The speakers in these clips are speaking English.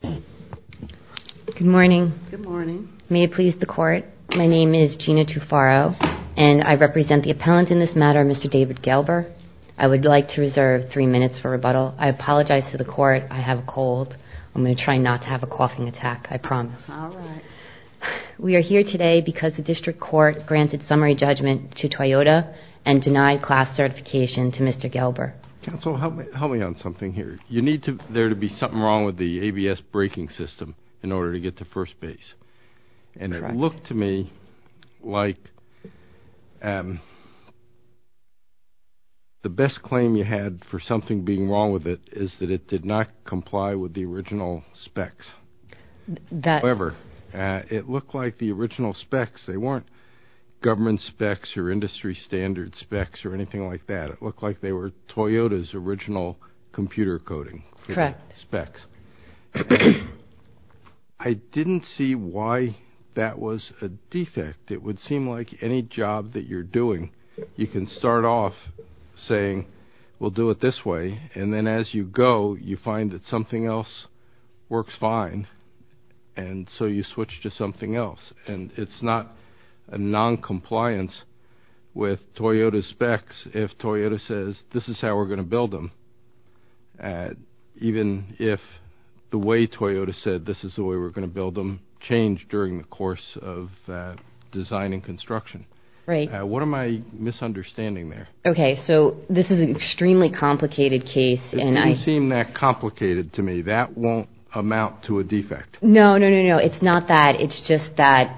Good morning. May it please the court. My name is Gina Tufaro and I represent the appellant in this matter, Mr. David Gelber. I would like to reserve three minutes for rebuttal. I apologize to the court. I have a cold. I'm going to try not to have a coughing attack. I promise. We are here today because the district court granted summary judgment to Toyota and denied class certification to Mr. Gelber. Counsel, help me on something here. You need there to be something wrong with the ABS braking system in order to get to first base. And it looked to me like the best claim you had for something being wrong with it is that it did not comply with the original specs. However, it looked like the original specs, they weren't government specs or industry standard specs or anything like that. It looked like they were Toyota's original computer coding specs. I didn't see why that was a defect. It would seem like any job that you're doing, you can start off saying, we'll do it this way. And then as you go, you find that something else works fine. And so you switch to something else. And it's not a noncompliance with Toyota's specs if Toyota says this is how we're going to build them. Even if the way Toyota said this is the way we're going to build them changed during the course of design and construction. What am I misunderstanding there? Okay. So this is an extremely complicated case. It doesn't seem that complicated to me. That won't amount to a defect. No, no, no, no. It's not that. It's just that.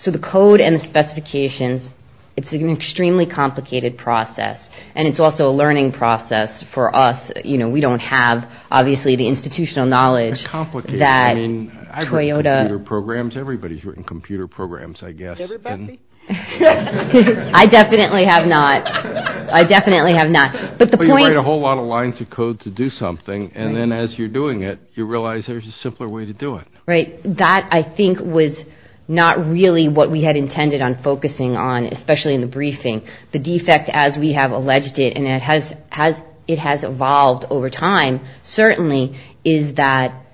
So the code and the specifications, it's an extremely complicated process. And it's also a learning process for us. We don't have, obviously, the institutional knowledge. I've written computer programs. Everybody's written computer programs, I guess. Everybody? I definitely have not. I definitely have not. But you write a whole lot of lines of code to do something. And then as you're doing it, you realize there's a simpler way to do it. That, I think, was not really what we had intended on focusing on, especially in the briefing. The defect, as we have alleged it, and it has evolved over time, certainly, is that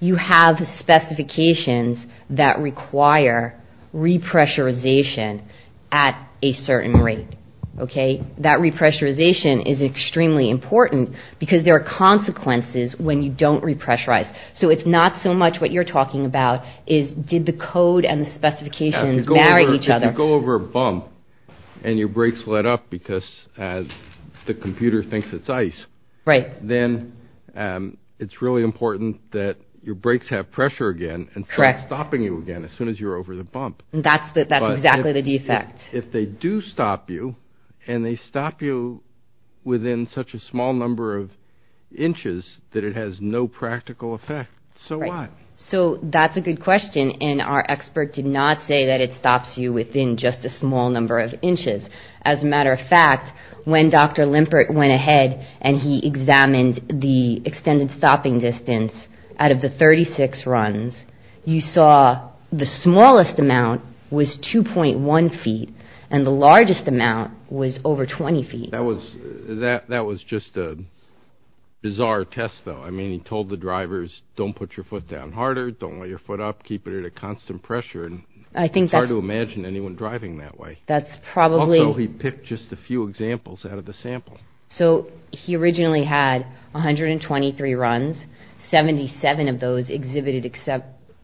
you have specifications that require repressurization at a certain rate. That repressurization is extremely important because there are consequences when you don't repressurize. So it's not so much what you're talking about. It's did the code and the specifications marry each other? If you go over a bump and your brakes let up because the computer thinks it's ice, then it's really important that your brakes have pressure again and stop stopping you again as soon as you're over the bump. That's exactly the defect. If they do stop you and they stop you within such a small number of inches that it has no practical effect, so what? So that's a good question. And our expert did not say that it stops you within just a small number of inches. As a matter of fact, when Dr. Limpert went ahead and he examined the extended stopping distance out of the 36 runs, you saw the smallest amount was 2.1 feet and the largest amount was over 20 feet. That was just a bizarre test, though. I mean, he told the drivers, don't put your foot down harder, don't let your foot up, keep it at a constant pressure. It's hard to imagine anyone driving that way. Also, he picked just a few examples out of the sample. So he originally had 123 runs. Seventy-seven of those exhibited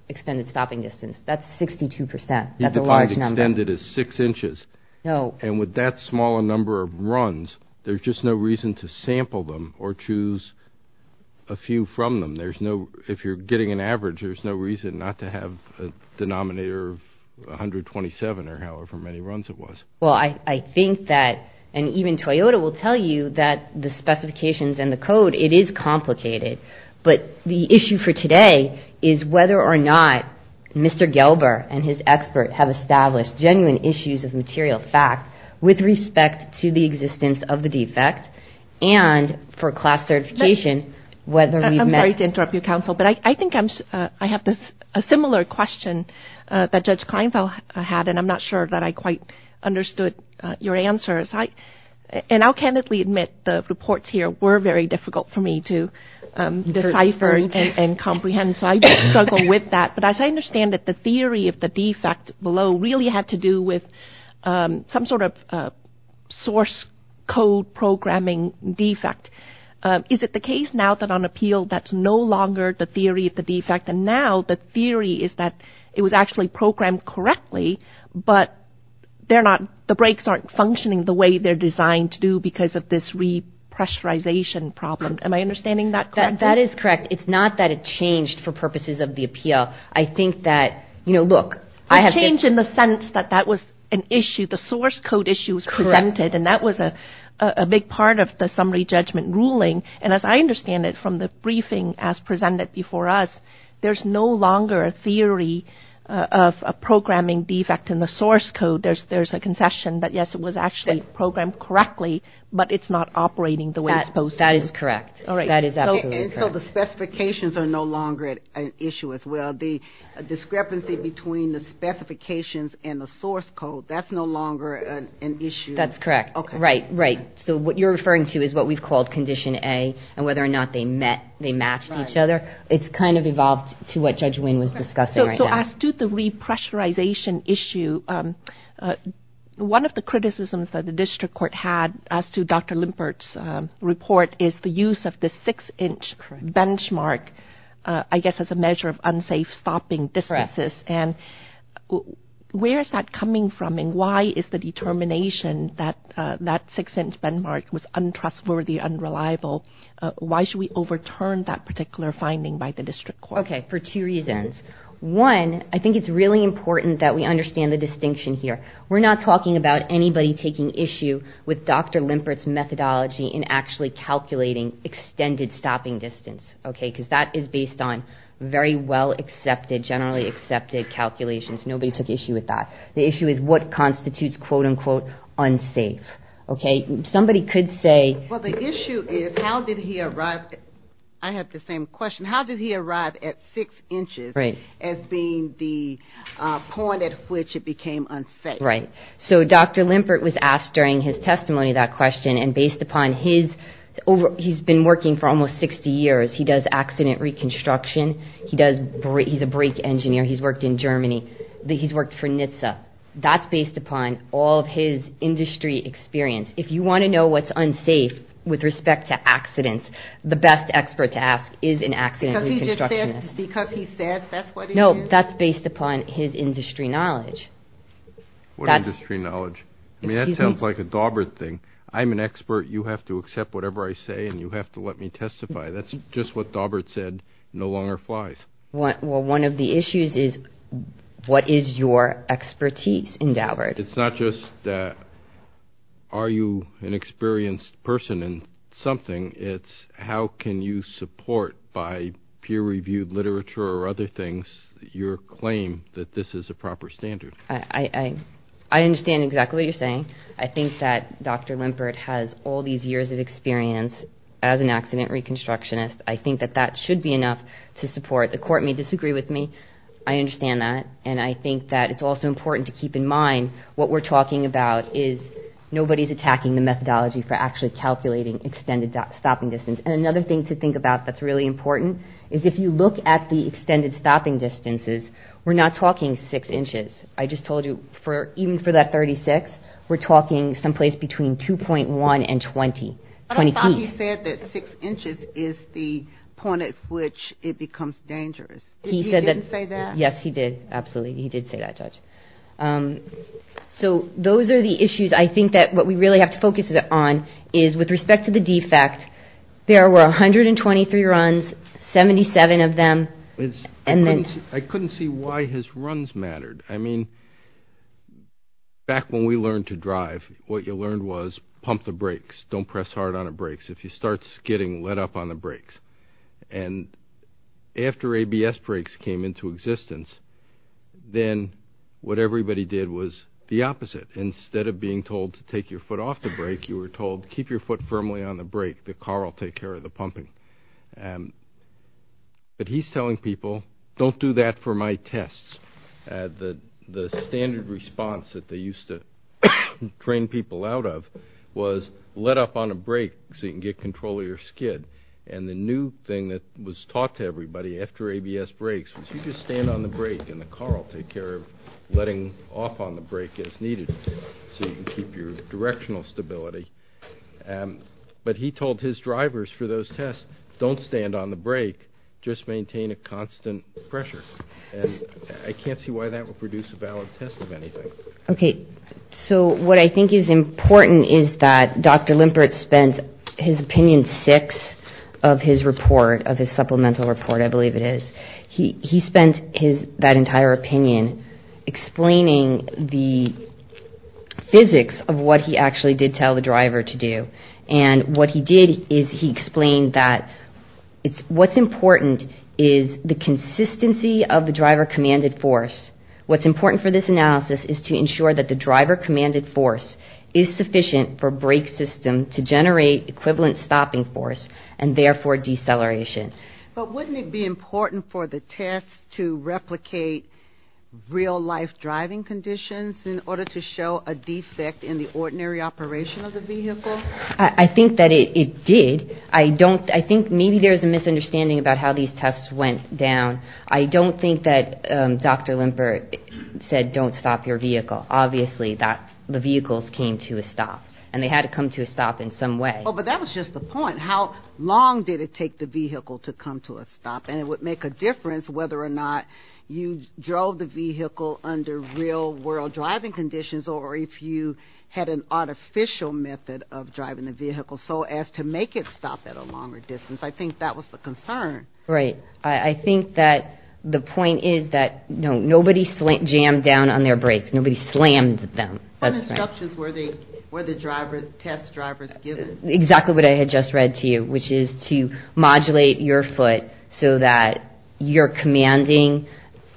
extended stopping distance. That's 62 percent. That's a large number. He defined extended as six inches. And with that small a number of runs, there's just no reason to sample them or choose a few from them. If you're getting an average, there's no reason not to have a denominator of 127 or however many runs it was. Well, I think that, and even Toyota will tell you that the specifications and the code, it is complicated. But the issue for today is whether or not Mr. Gelber and his expert have established genuine issues of material fact with respect to the existence of the defect. And for class certification, whether we've met. I'm sorry to interrupt you, counsel. But I think I have a similar question that Judge Kleinfeld had, and I'm not sure that I quite understood your answer. And I'll candidly admit the reports here were very difficult for me to decipher and comprehend. So I struggle with that. But as I understand it, the theory of the defect below really had to do with some sort of source code programming defect. Is it the case now that on appeal, that's no longer the theory of the defect? And now the theory is that it was actually programmed correctly, but they're not. The brakes aren't functioning the way they're designed to do because of this repressurization problem. Am I understanding that? That is correct. And it's not that it changed for purposes of the appeal. I think that, you know, look. It changed in the sense that that was an issue. The source code issue was presented, and that was a big part of the summary judgment ruling. And as I understand it from the briefing as presented before us, there's no longer a theory of a programming defect in the source code. There's a concession that, yes, it was actually programmed correctly, but it's not operating the way it's supposed to. That is correct. And so the specifications are no longer an issue as well. The discrepancy between the specifications and the source code, that's no longer an issue. That's correct. Right, right. So what you're referring to is what we've called Condition A and whether or not they matched each other. It's kind of evolved to what Judge Winn was discussing right now. As to the repressurization issue, one of the criticisms that the district court had as to Dr. Limpert's report is the use of the six-inch benchmark, I guess, as a measure of unsafe stopping distances. And where is that coming from, and why is the determination that that six-inch benchmark was untrustworthy, unreliable? Why should we overturn that particular finding by the district court? Okay, for two reasons. One, I think it's really important that we understand the distinction here. We're not talking about anybody taking issue with Dr. Limpert's methodology in actually calculating extended stopping distance, okay? Because that is based on very well-accepted, generally accepted calculations. Nobody took issue with that. The issue is what constitutes, quote-unquote, unsafe, okay? Somebody could say... I have the same question. How did he arrive at six inches as being the point at which it became unsafe? Right. So Dr. Limpert was asked during his testimony that question, and based upon his over... He's been working for almost 60 years. He does accident reconstruction. He's a brake engineer. He's worked in Germany. He's worked for NHTSA. That's based upon all of his industry experience. If you want to know what's unsafe with respect to accidents, the best expert to ask is an accident reconstructionist. Because he said that's what he did? No, that's based upon his industry knowledge. What industry knowledge? I mean, that sounds like a Daubert thing. I'm an expert. You have to accept whatever I say, and you have to let me testify. That's just what Daubert said no longer flies. Well, one of the issues is what is your expertise in Daubert? It's not just are you an experienced person in something. It's how can you support by peer-reviewed literature or other things your claim that this is a proper standard. I understand exactly what you're saying. I think that Dr. Limpert has all these years of experience as an accident reconstructionist. I think that that should be enough to support. The court may disagree with me. I understand that. And I think that it's also important to keep in mind what we're talking about is nobody's attacking the methodology for actually calculating extended stopping distance. And another thing to think about that's really important is if you look at the extended stopping distances, we're not talking six inches. I just told you, even for that 36, we're talking someplace between 2.1 and 20 feet. But I thought he said that six inches is the point at which it becomes dangerous. He didn't say that? Yes, he did. Absolutely, he did say that, Judge. So those are the issues I think that what we really have to focus on is with respect to the defect, there were 123 runs, 77 of them. I couldn't see why his runs mattered. I mean, back when we learned to drive, what you learned was pump the brakes. Don't press hard on the brakes. If he starts skidding, let up on the brakes. And after ABS brakes came into existence, then what everybody did was the opposite. Instead of being told to take your foot off the brake, you were told keep your foot firmly on the brake. The car will take care of the pumping. But he's telling people, don't do that for my tests. The standard response that they used to train people out of was let up on a brake so you can get control of your skid. And the new thing that was taught to everybody after ABS brakes was you just stand on the brake and the car will take care of letting off on the brake as needed so you can keep your directional stability. But he told his drivers for those tests, don't stand on the brake, just maintain a constant pressure. And I can't see why that would produce a valid test of anything. Okay, so what I think is important is that Dr. Limpert spent his opinion six of his report, of his supplemental report, I believe it is. He spent that entire opinion explaining the physics of what he actually did tell the driver to do. And what he did is he explained that what's important is the consistency of the driver-commanded force. What's important for this analysis is to ensure that the driver-commanded force is sufficient for brake system to generate equivalent stopping force and therefore deceleration. But wouldn't it be important for the test to replicate real-life driving conditions in order to show a defect in the ordinary operation of the vehicle? I think that it did. I think maybe there's a misunderstanding about how these tests went down. I don't think that Dr. Limpert said don't stop your vehicle. Obviously, the vehicles came to a stop. And they had to come to a stop in some way. But that was just the point. How long did it take the vehicle to come to a stop? And it would make a difference whether or not you drove the vehicle under real-world driving conditions or if you had an artificial method of driving the vehicle so as to make it stop at a longer distance. I think that was the concern. Right. I think that the point is that nobody jammed down on their brakes. Nobody slammed them. What instructions were the test drivers given? Exactly what I had just read to you, which is to modulate your foot so that you're commanding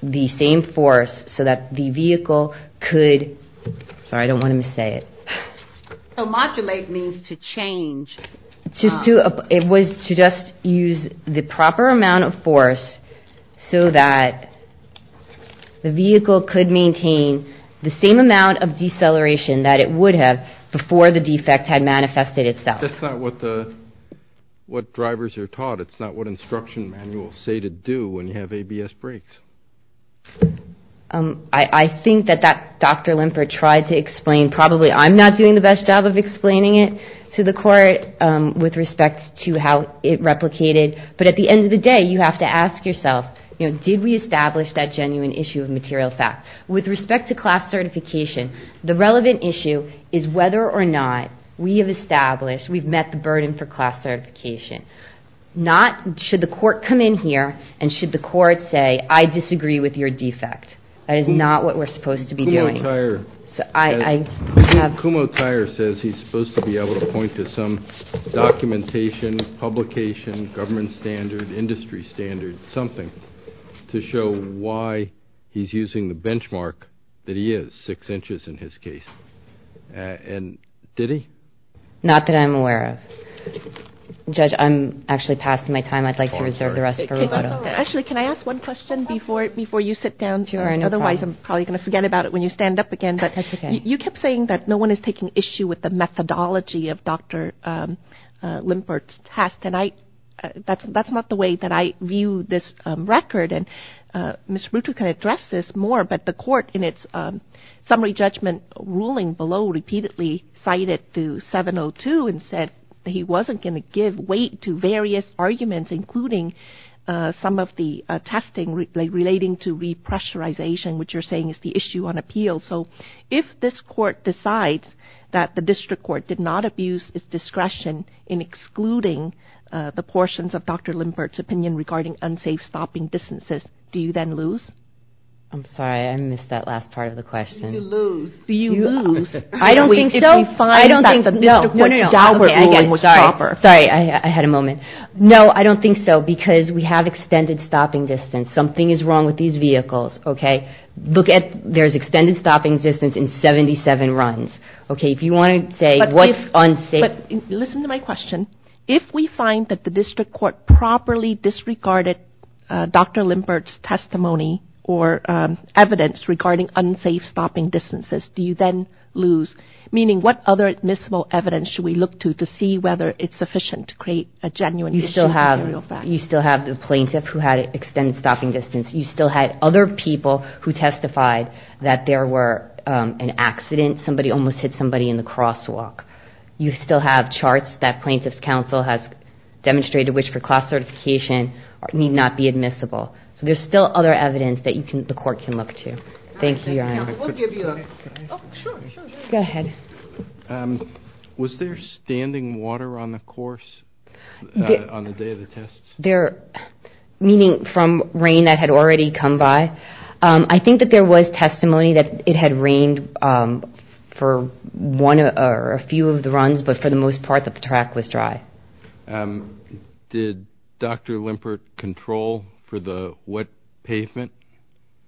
the same force so that the vehicle could – sorry, I don't want to missay it. So modulate means to change. It was to just use the proper amount of force so that the vehicle could maintain the same amount of deceleration that it would have before the defect had manifested itself. That's not what drivers are taught. It's not what instruction manuals say to do when you have ABS brakes. I think that Dr. Limpert tried to explain. Probably I'm not doing the best job of explaining it to the court with respect to how it replicated, but at the end of the day, you have to ask yourself, you know, did we establish that genuine issue of material fact? With respect to class certification, the relevant issue is whether or not we have established, we've met the burden for class certification. Not should the court come in here and should the court say, I disagree with your defect. That is not what we're supposed to be doing. Kumo Tyer says he's supposed to be able to point to some documentation, publication, government standard, industry standard, something to show why he's using the benchmark that he is, six inches in his case. And did he? Not that I'm aware of. Judge, I'm actually passing my time. I'd like to reserve the rest for Roberto. Actually, can I ask one question before you sit down? Otherwise I'm probably going to forget about it when you stand up again. You kept saying that no one is taking issue with the methodology of Dr. Limpert's test, and that's not the way that I view this record. And Ms. Ruto can address this more, but the court in its summary judgment ruling below repeatedly cited to 702 and said he wasn't going to give weight to various arguments, including some of the testing relating to repressurization, which you're saying is the issue on appeal. So if this court decides that the district court did not abuse its discretion in excluding the portions of Dr. Limpert's opinion regarding unsafe stopping distances, do you then lose? I'm sorry. I missed that last part of the question. Do you lose? Do you lose? I don't think so. I don't think that the district court ruling was proper. Sorry, I had a moment. No, I don't think so, because we have extended stopping distance. Something is wrong with these vehicles. Okay. Look at there's extended stopping distance in 77 runs. Okay. If you want to say what's unsafe. But listen to my question. If we find that the district court properly disregarded Dr. Limpert's testimony or evidence regarding unsafe stopping distances, do you then lose? Meaning what other admissible evidence should we look to to see whether it's sufficient to create a genuine issue? You still have the plaintiff who had extended stopping distance. You still had other people who testified that there were an accident. Somebody almost hit somebody in the crosswalk. You still have charts that plaintiff's counsel has demonstrated which for class certification need not be admissible. So there's still other evidence that the court can look to. Thank you, Your Honor. Go ahead. Was there standing water on the course on the day of the tests? Meaning from rain that had already come by? I think that there was testimony that it had rained for one or a few of the runs, but for the most part that the track was dry. Did Dr. Limpert control for the wet pavement?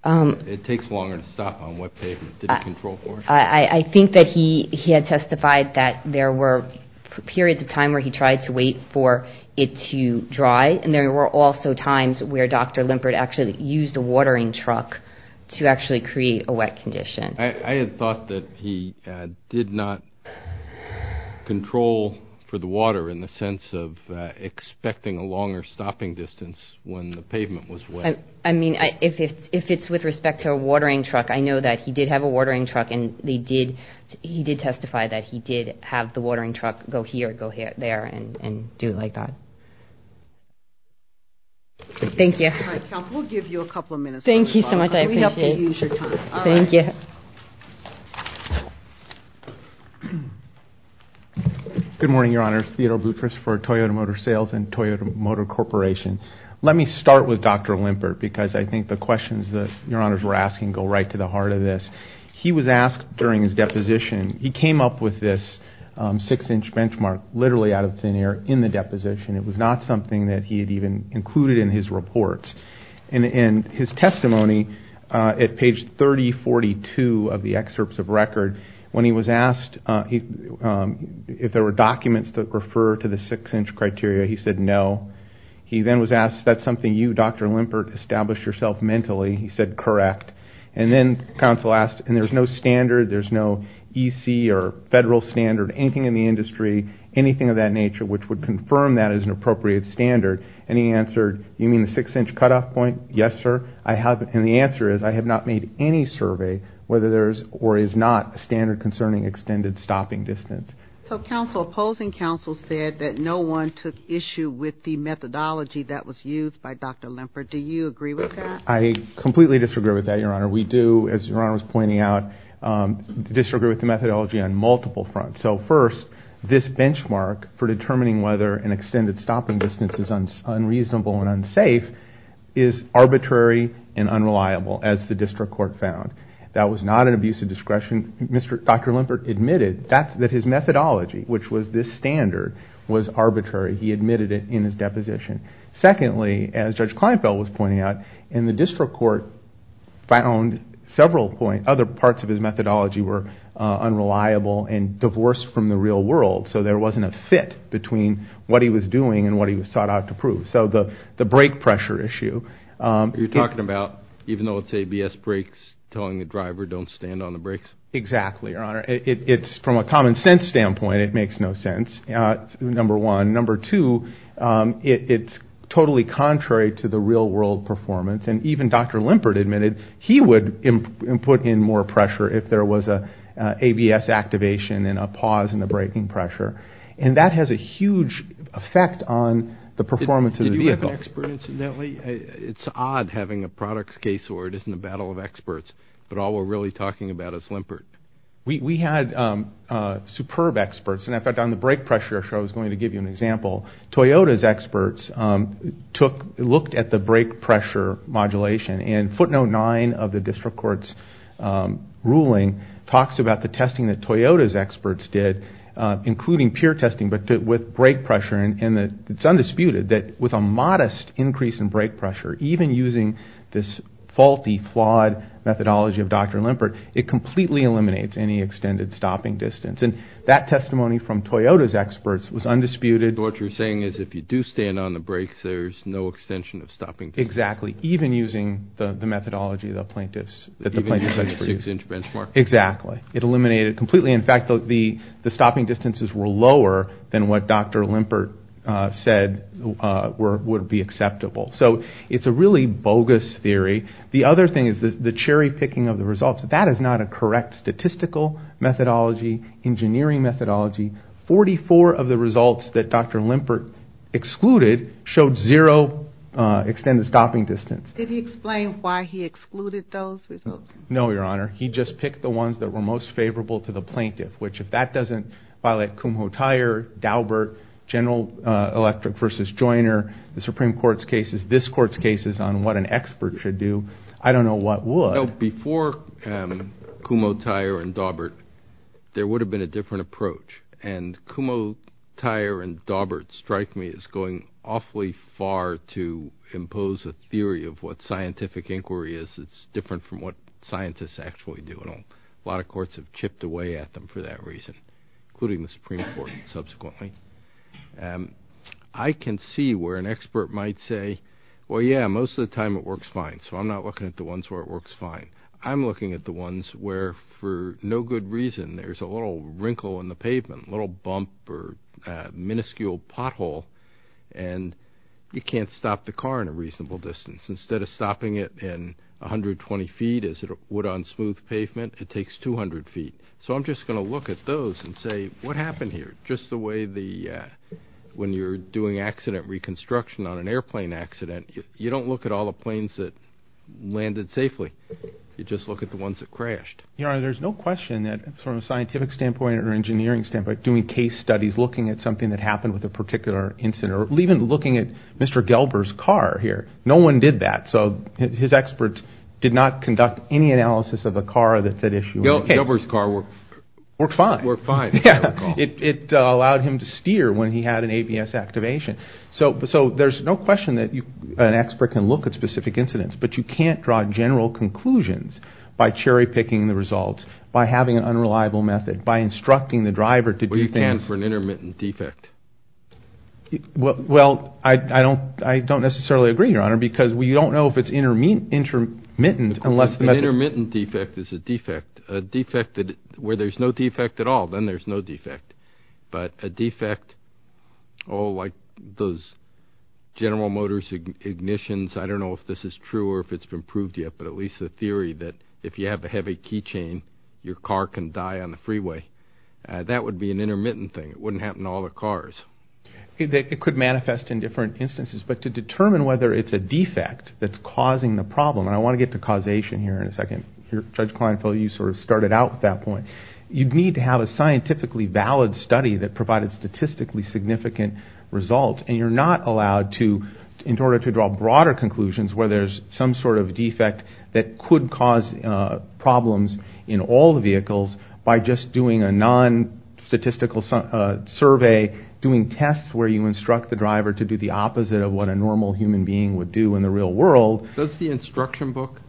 It takes longer to stop on wet pavement. Did he control for it? I think that he had testified that there were periods of time where he tried to wait for it to dry, and there were also times where Dr. Limpert actually used a watering truck to actually create a wet condition. I had thought that he did not control for the water in the sense of expecting a longer stopping distance when the pavement was wet. I mean, if it's with respect to a watering truck, I know that he did have a watering truck, and he did testify that he did have the watering truck go here, go there, and do it like that. Thank you. All right, counsel, we'll give you a couple of minutes. Thank you so much. I appreciate it. We hope that you use your time. Thank you. Good morning, Your Honors. Theodore Boutrous for Toyota Motor Sales and Toyota Motor Corporation. Let me start with Dr. Limpert because I think the questions that Your Honors were asking go right to the heart of this. He was asked during his deposition, he came up with this six-inch benchmark literally out of thin air in the deposition. It was not something that he had even included in his reports. In his testimony at page 3042 of the excerpts of record, when he was asked if there were documents that refer to the six-inch criteria, he said no. He then was asked, that's something you, Dr. Limpert, established yourself mentally. He said correct. And then counsel asked, and there's no standard, there's no EC or federal standard, anything in the industry, anything of that nature which would confirm that as an appropriate standard. And he answered, you mean the six-inch cutoff point? Yes, sir. And the answer is I have not made any survey whether there is or is not a standard concerning extended stopping distance. So opposing counsel said that no one took issue with the methodology that was used by Dr. Limpert. Do you agree with that? I completely disagree with that, Your Honor. We do, as Your Honor was pointing out, disagree with the methodology on multiple fronts. So first, this benchmark for determining whether an extended stopping distance is unreasonable and unsafe is arbitrary and unreliable, as the district court found. That was not an abuse of discretion. Dr. Limpert admitted that his methodology, which was this standard, was arbitrary. He admitted it in his deposition. Secondly, as Judge Kleinfeld was pointing out, in the district court found several points, other parts of his methodology were unreliable and divorced from the real world, so there wasn't a fit between what he was doing and what he sought out to prove. So the brake pressure issue. You're talking about even though it's ABS brakes telling the driver don't stand on the brakes? Exactly, Your Honor. It's from a common sense standpoint, it makes no sense, number one. Number two, it's totally contrary to the real world performance, and even Dr. Limpert admitted he would put in more pressure if there was an ABS activation and a pause in the braking pressure, and that has a huge effect on the performance of the vehicle. I'm not an expert, incidentally. It's odd having a products case where it isn't a battle of experts, but all we're really talking about is Limpert. We had superb experts, and in fact on the brake pressure issue I was going to give you an example. Toyota's experts looked at the brake pressure modulation, and footnote nine of the district court's ruling talks about the testing that Toyota's experts did, including pure testing but with brake pressure, and it's undisputed that with a modest increase in brake pressure, even using this faulty, flawed methodology of Dr. Limpert, it completely eliminates any extended stopping distance, and that testimony from Toyota's experts was undisputed. So what you're saying is if you do stand on the brakes, there's no extension of stopping distance? Exactly, even using the methodology of the plaintiffs. Even using the six-inch benchmark? Exactly. It eliminated completely. In fact, the stopping distances were lower than what Dr. Limpert said would be acceptable. So it's a really bogus theory. The other thing is the cherry-picking of the results. That is not a correct statistical methodology, engineering methodology. Forty-four of the results that Dr. Limpert excluded showed zero extended stopping distance. Did he explain why he excluded those results? No, Your Honor. He just picked the ones that were most favorable to the plaintiff, which if that doesn't violate Kumho-Tyre, Daubert, General Electric v. Joyner, the Supreme Court's cases, this Court's cases on what an expert should do, I don't know what would. Before Kumho-Tyre and Daubert, there would have been a different approach, and Kumho-Tyre and Daubert strike me as going awfully far to impose a theory of what scientific inquiry is. It's different from what scientists actually do, and a lot of courts have chipped away at them for that reason, including the Supreme Court subsequently. I can see where an expert might say, well, yeah, most of the time it works fine, so I'm not looking at the ones where it works fine. I'm looking at the ones where for no good reason there's a little wrinkle in the pavement, a little bump or minuscule pothole, and you can't stop the car in a reasonable distance. Instead of stopping it in 120 feet as it would on smooth pavement, it takes 200 feet. So I'm just going to look at those and say, what happened here? Just the way when you're doing accident reconstruction on an airplane accident, you don't look at all the planes that landed safely. You just look at the ones that crashed. There's no question that from a scientific standpoint or engineering standpoint, doing case studies, looking at something that happened with a particular incident, or even looking at Mr. Gelber's car here, no one did that. So his experts did not conduct any analysis of the car that's at issue. Gelber's car worked fine. It allowed him to steer when he had an ABS activation. So there's no question that an expert can look at specific incidents, but you can't draw general conclusions by cherry-picking the results, by having an unreliable method, by instructing the driver to do things. Well, I don't necessarily agree, Your Honor, because we don't know if it's intermittent. An intermittent defect is a defect. Where there's no defect at all, then there's no defect. But a defect, oh, like those General Motors ignitions, I don't know if this is true or if it's been proved yet, but at least the theory that if you have a heavy key chain, your car can die on the freeway. That would be an intermittent thing. It wouldn't happen to all the cars. It could manifest in different instances, but to determine whether it's a defect that's causing the problem, and I want to get to causation here in a second. Judge Kleinfeld, you sort of started out with that point. You'd need to have a scientifically valid study that provided statistically significant results, and you're not allowed to, in order to draw broader conclusions where there's some sort of defect that could cause problems in all the vehicles by just doing a non-statistical survey, doing tests where you instruct the driver to do the opposite of what a normal human being would do in the real world. Does the instruction book,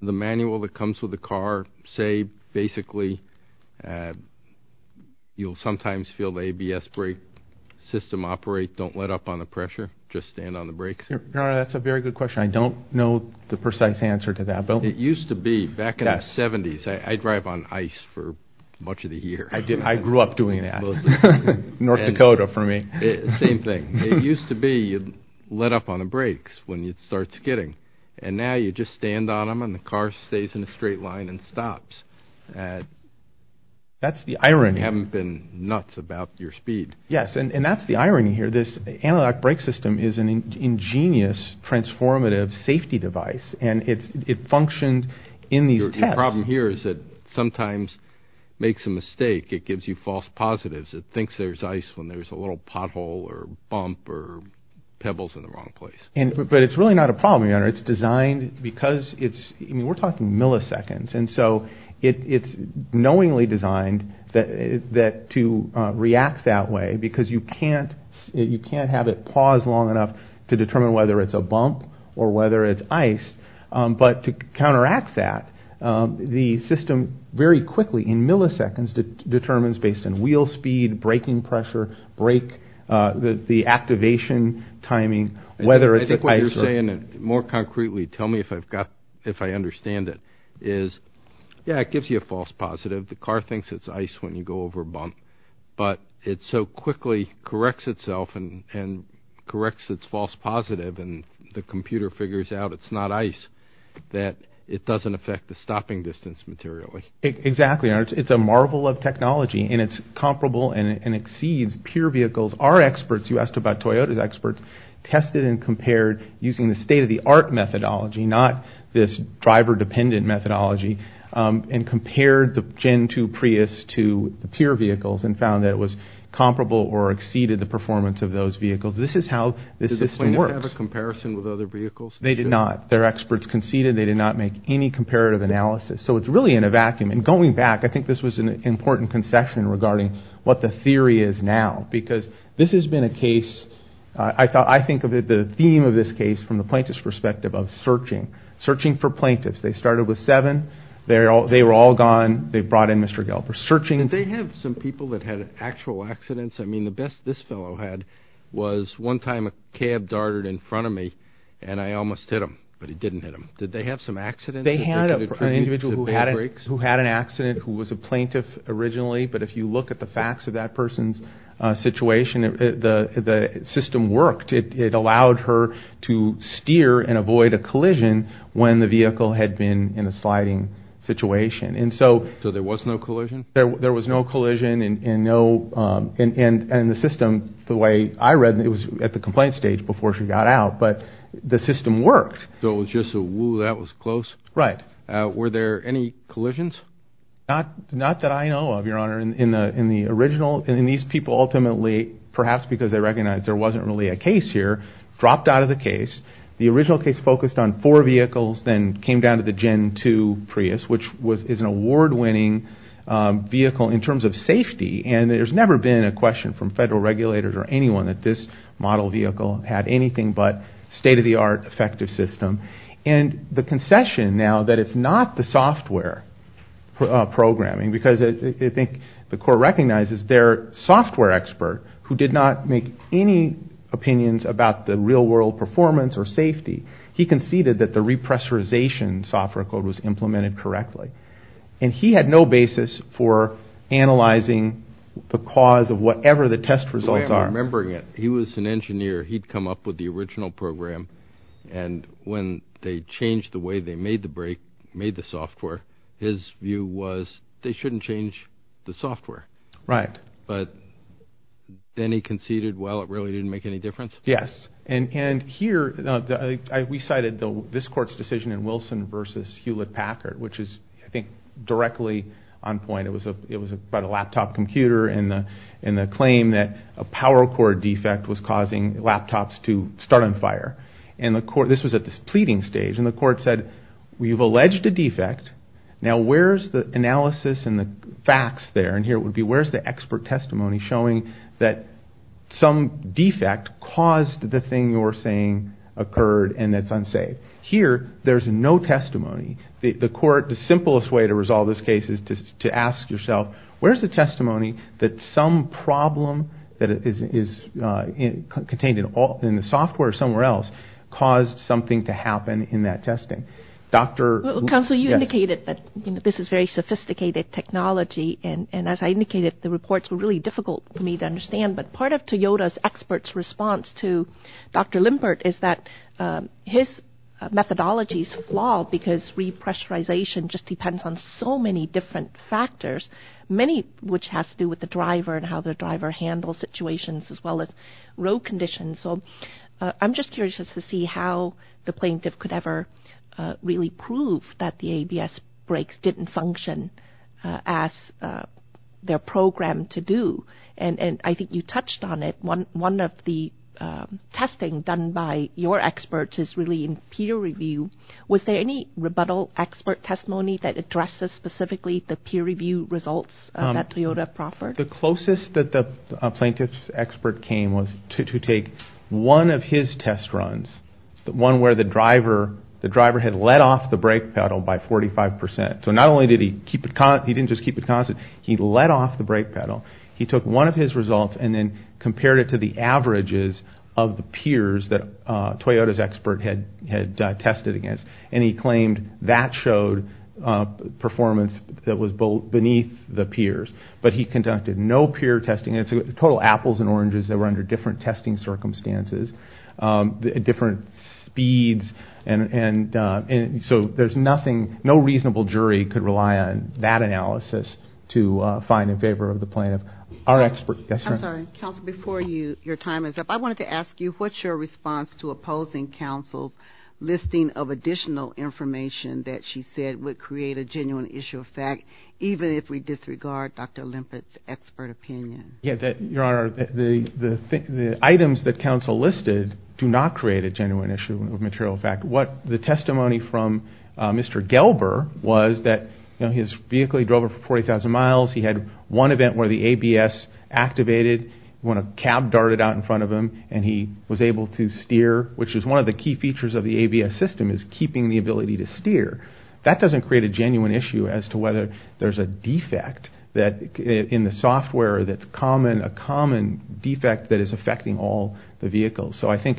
the manual that comes with the car, say basically you'll sometimes feel the ABS brake system operate, don't let up on the pressure, just stand on the brakes? That's a very good question. I don't know the precise answer to that. It used to be back in the 70s, I drive on ice for much of the year. I grew up doing that. North Dakota for me. Same thing. It used to be you'd let up on the brakes when you'd start skidding, and now you just stand on them and the car stays in a straight line and stops. That's the irony. You haven't been nuts about your speed. Yes, and that's the irony here. This analog brake system is an ingenious transformative safety device, and it functions in these tests. Your problem here is it sometimes makes a mistake. It gives you false positives. It thinks there's ice when there's a little pothole or bump or pebbles in the wrong place. But it's really not a problem, Your Honor. It's designed because it's, I mean, we're talking milliseconds, and so it's knowingly designed to react that way because you can't have it pause long enough to determine whether it's a bump or whether it's ice. But to counteract that, the system very quickly, in milliseconds, determines based on wheel speed, braking pressure, brake, the activation timing, whether it's ice. I think what you're saying, and more concretely tell me if I understand it, is, yeah, it gives you a false positive. The car thinks it's ice when you go over a bump, but it so quickly corrects itself and corrects its false positive and the computer figures out it's not ice, that it doesn't affect the stopping distance materially. Exactly, Your Honor. It's a marvel of technology, and it's comparable and exceeds pure vehicles. Our experts, you asked about Toyota's experts, tested and compared using the state-of-the-art methodology, not this driver-dependent methodology, and compared the Gen 2 Prius to pure vehicles and found that it was comparable or exceeded the performance of those vehicles. This is how the system works. Does the plaintiff have a comparison with other vehicles? They did not. Their experts conceded they did not make any comparative analysis. So it's really in a vacuum. And going back, I think this was an important concession regarding what the theory is now, because this has been a case, I think of it, the theme of this case from the plaintiff's perspective of searching, searching for plaintiffs. They started with seven. They were all gone. They brought in Mr. Galbraith, searching. Did they have some people that had actual accidents? I mean, the best this fellow had was one time a cab darted in front of me, and I almost hit him, but he didn't hit him. Did they have some accidents? They had an individual who had an accident who was a plaintiff originally, but if you look at the facts of that person's situation, the system worked. It allowed her to steer and avoid a collision when the vehicle had been in a sliding situation. So there was no collision? There was no collision, and the system, the way I read it, it was at the complaint stage before she got out, but the system worked. So it was just a whoo, that was close? Right. Were there any collisions? Not that I know of, Your Honor. In the original, these people ultimately, perhaps because they recognized there wasn't really a case here, dropped out of the case. The original case focused on four vehicles, then came down to the Gen 2 Prius, which is an award-winning vehicle in terms of safety, and there's never been a question from federal regulators or anyone that this model vehicle had anything but state-of-the-art effective system. And the concession now that it's not the software programming, because I think the court recognizes their software expert, who did not make any opinions about the real-world performance or safety, he conceded that the repressorization software code was implemented correctly. And he had no basis for analyzing the cause of whatever the test results are. The way I'm remembering it, he was an engineer. He'd come up with the original program, and when they changed the way they made the software, his view was they shouldn't change the software. Right. But then he conceded, well, it really didn't make any difference? Yes. And here, we cited this court's decision in Wilson v. Hewlett-Packard, which is, I think, directly on point. It was about a laptop computer and the claim that a power cord defect was causing laptops to start on fire. And this was at this pleading stage, and the court said, we've alleged a defect. Now, where's the analysis and the facts there? And here it would be, where's the expert testimony showing that some defect caused the thing you're saying occurred and it's unsafe? Here, there's no testimony. The court, the simplest way to resolve this case is to ask yourself, where's the testimony that some problem that is contained in the software somewhere else caused something to happen in that testing? Counsel, you indicated that this is very sophisticated technology, and as I indicated, the reports were really difficult for me to understand. But part of Toyota's experts' response to Dr. Limpert is that his methodologies flaw because repressurization just depends on so many different factors, many of which has to do with the driver and how the driver handles situations as well as road conditions. So I'm just curious to see how the plaintiff could ever really prove that the ABS brakes didn't function as they're programmed to do. And I think you touched on it. One of the testing done by your experts is really in peer review. Was there any rebuttal expert testimony that addresses specifically the peer review results that Toyota proffered? The closest that the plaintiff's expert came was to take one of his test runs, the one where the driver had let off the brake pedal by 45 percent. So not only did he keep it constant, he didn't just keep it constant, he let off the brake pedal. He took one of his results and then compared it to the averages of the peers that Toyota's expert had tested against, and he claimed that showed performance that was beneath the peers. But he conducted no peer testing. It's a total apples and oranges. They were under different testing circumstances, different speeds. And so there's nothing, no reasonable jury could rely on that analysis to find in favor of the plaintiff. I'm sorry. Counsel, before your time is up, I wanted to ask you, what's your response to opposing counsel's listing of additional information that she said would create a genuine issue of fact, even if we disregard Dr. Olympic's expert opinion? Your Honor, the items that counsel listed do not create a genuine issue of material fact. The testimony from Mr. Gelber was that his vehicle, he drove it for 40,000 miles, he had one event where the ABS activated, he went to cab dart it out in front of him, and he was able to steer, which is one of the key features of the ABS system, is keeping the ability to steer. That doesn't create a genuine issue as to whether there's a defect in the software that's a common defect that is affecting all the vehicles. So I think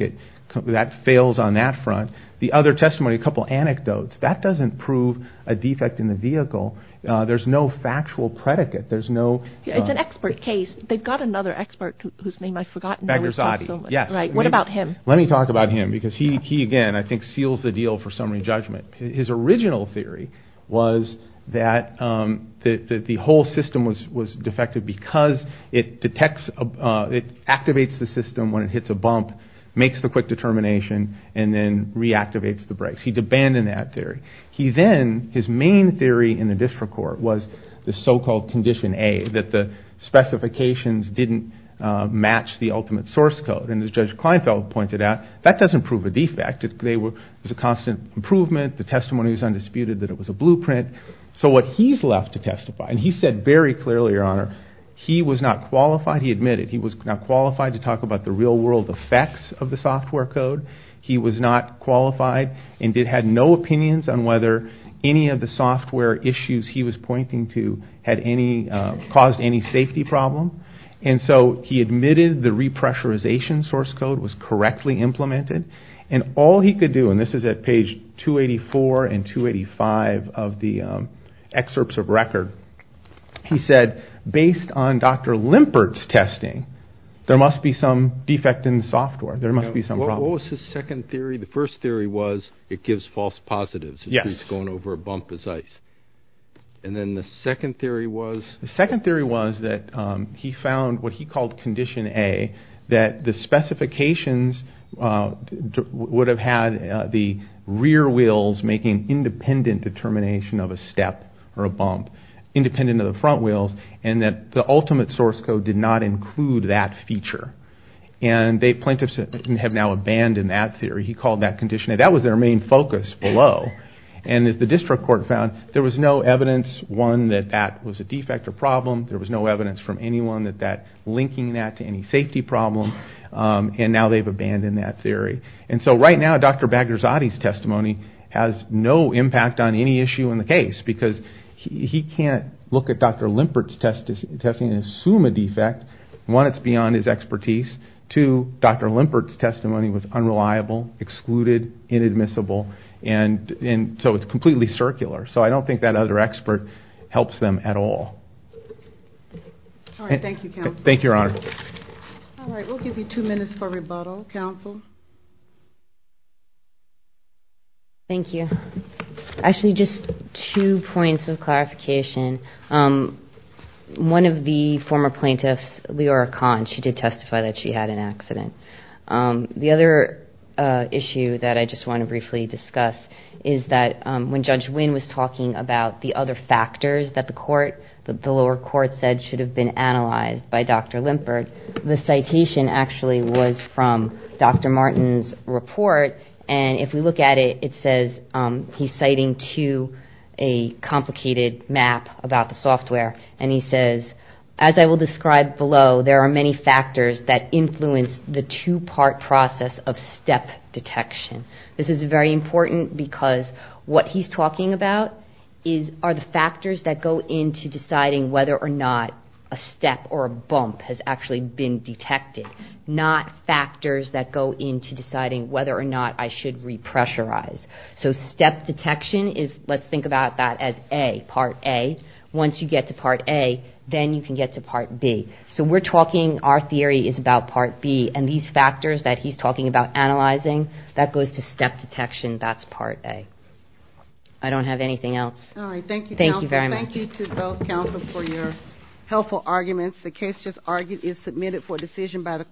that fails on that front. The other testimony, a couple anecdotes, that doesn't prove a defect in the vehicle. There's no factual predicate. It's an expert case. They've got another expert whose name I've forgotten. What about him? Let me talk about him because he, again, I think seals the deal for summary judgment. His original theory was that the whole system was defective because it detects, it activates the system when it hits a bump, makes the quick determination, and then reactivates the brakes. He'd abandoned that theory. He then, his main theory in the district court was the so-called Condition A, that the specifications didn't match the ultimate source code. And as Judge Kleinfeld pointed out, that doesn't prove a defect. It was a constant improvement. The testimony was undisputed that it was a blueprint. So what he's left to testify, and he said very clearly, Your Honor, he was not qualified. He admitted he was not qualified to talk about the real-world effects of the software code. He was not qualified and had no opinions on whether any of the software issues he was pointing to had caused any safety problem. And so he admitted the repressurization source code was correctly implemented. And all he could do, and this is at page 284 and 285 of the excerpts of record, he said, Based on Dr. Limpert's testing, there must be some defect in the software. There must be some problem. What was his second theory? The first theory was it gives false positives. Yes. It's going over a bump as ice. And then the second theory was? The second theory was that he found what he called Condition A, that the specifications would have had the rear wheels making independent determination of a step or a bump, independent of the front wheels, and that the ultimate source code did not include that feature. And the plaintiffs have now abandoned that theory. He called that Condition A. That was their main focus below. And as the district court found, there was no evidence, one, that that was a defect or problem. There was no evidence from anyone linking that to any safety problem. And now they've abandoned that theory. And so right now, Dr. Bagherzadeh's testimony has no impact on any issue in the case because he can't look at Dr. Limpert's testing and assume a defect. One, it's beyond his expertise. Two, Dr. Limpert's testimony was unreliable, excluded, inadmissible. And so it's completely circular. So I don't think that other expert helps them at all. All right, thank you, counsel. Thank you, Your Honor. All right, we'll give you two minutes for rebuttal. Counsel? Thank you. Actually, just two points of clarification. One of the former plaintiffs, Leora Kahn, she did testify that she had an accident. The other issue that I just want to briefly discuss is that when Judge Winn was talking about the other factors that the lower court said should have been analyzed by Dr. Limpert, the citation actually was from Dr. Martin's report. And if we look at it, it says he's citing to a complicated map about the software. And he says, as I will describe below, there are many factors that influence the two-part process of step detection. This is very important because what he's talking about are the factors that go into deciding whether or not a step or a bump has actually been detected, not factors that go into deciding whether or not I should repressurize. So step detection is, let's think about that as A, part A. Once you get to part A, then you can get to part B. So we're talking, our theory is about part B. And these factors that he's talking about analyzing, that goes to step detection. That's part A. I don't have anything else. All right, thank you, counsel. Thank you very much. Thank you to both counsel for your helpful arguments. The case just argued is submitted for decision by the court.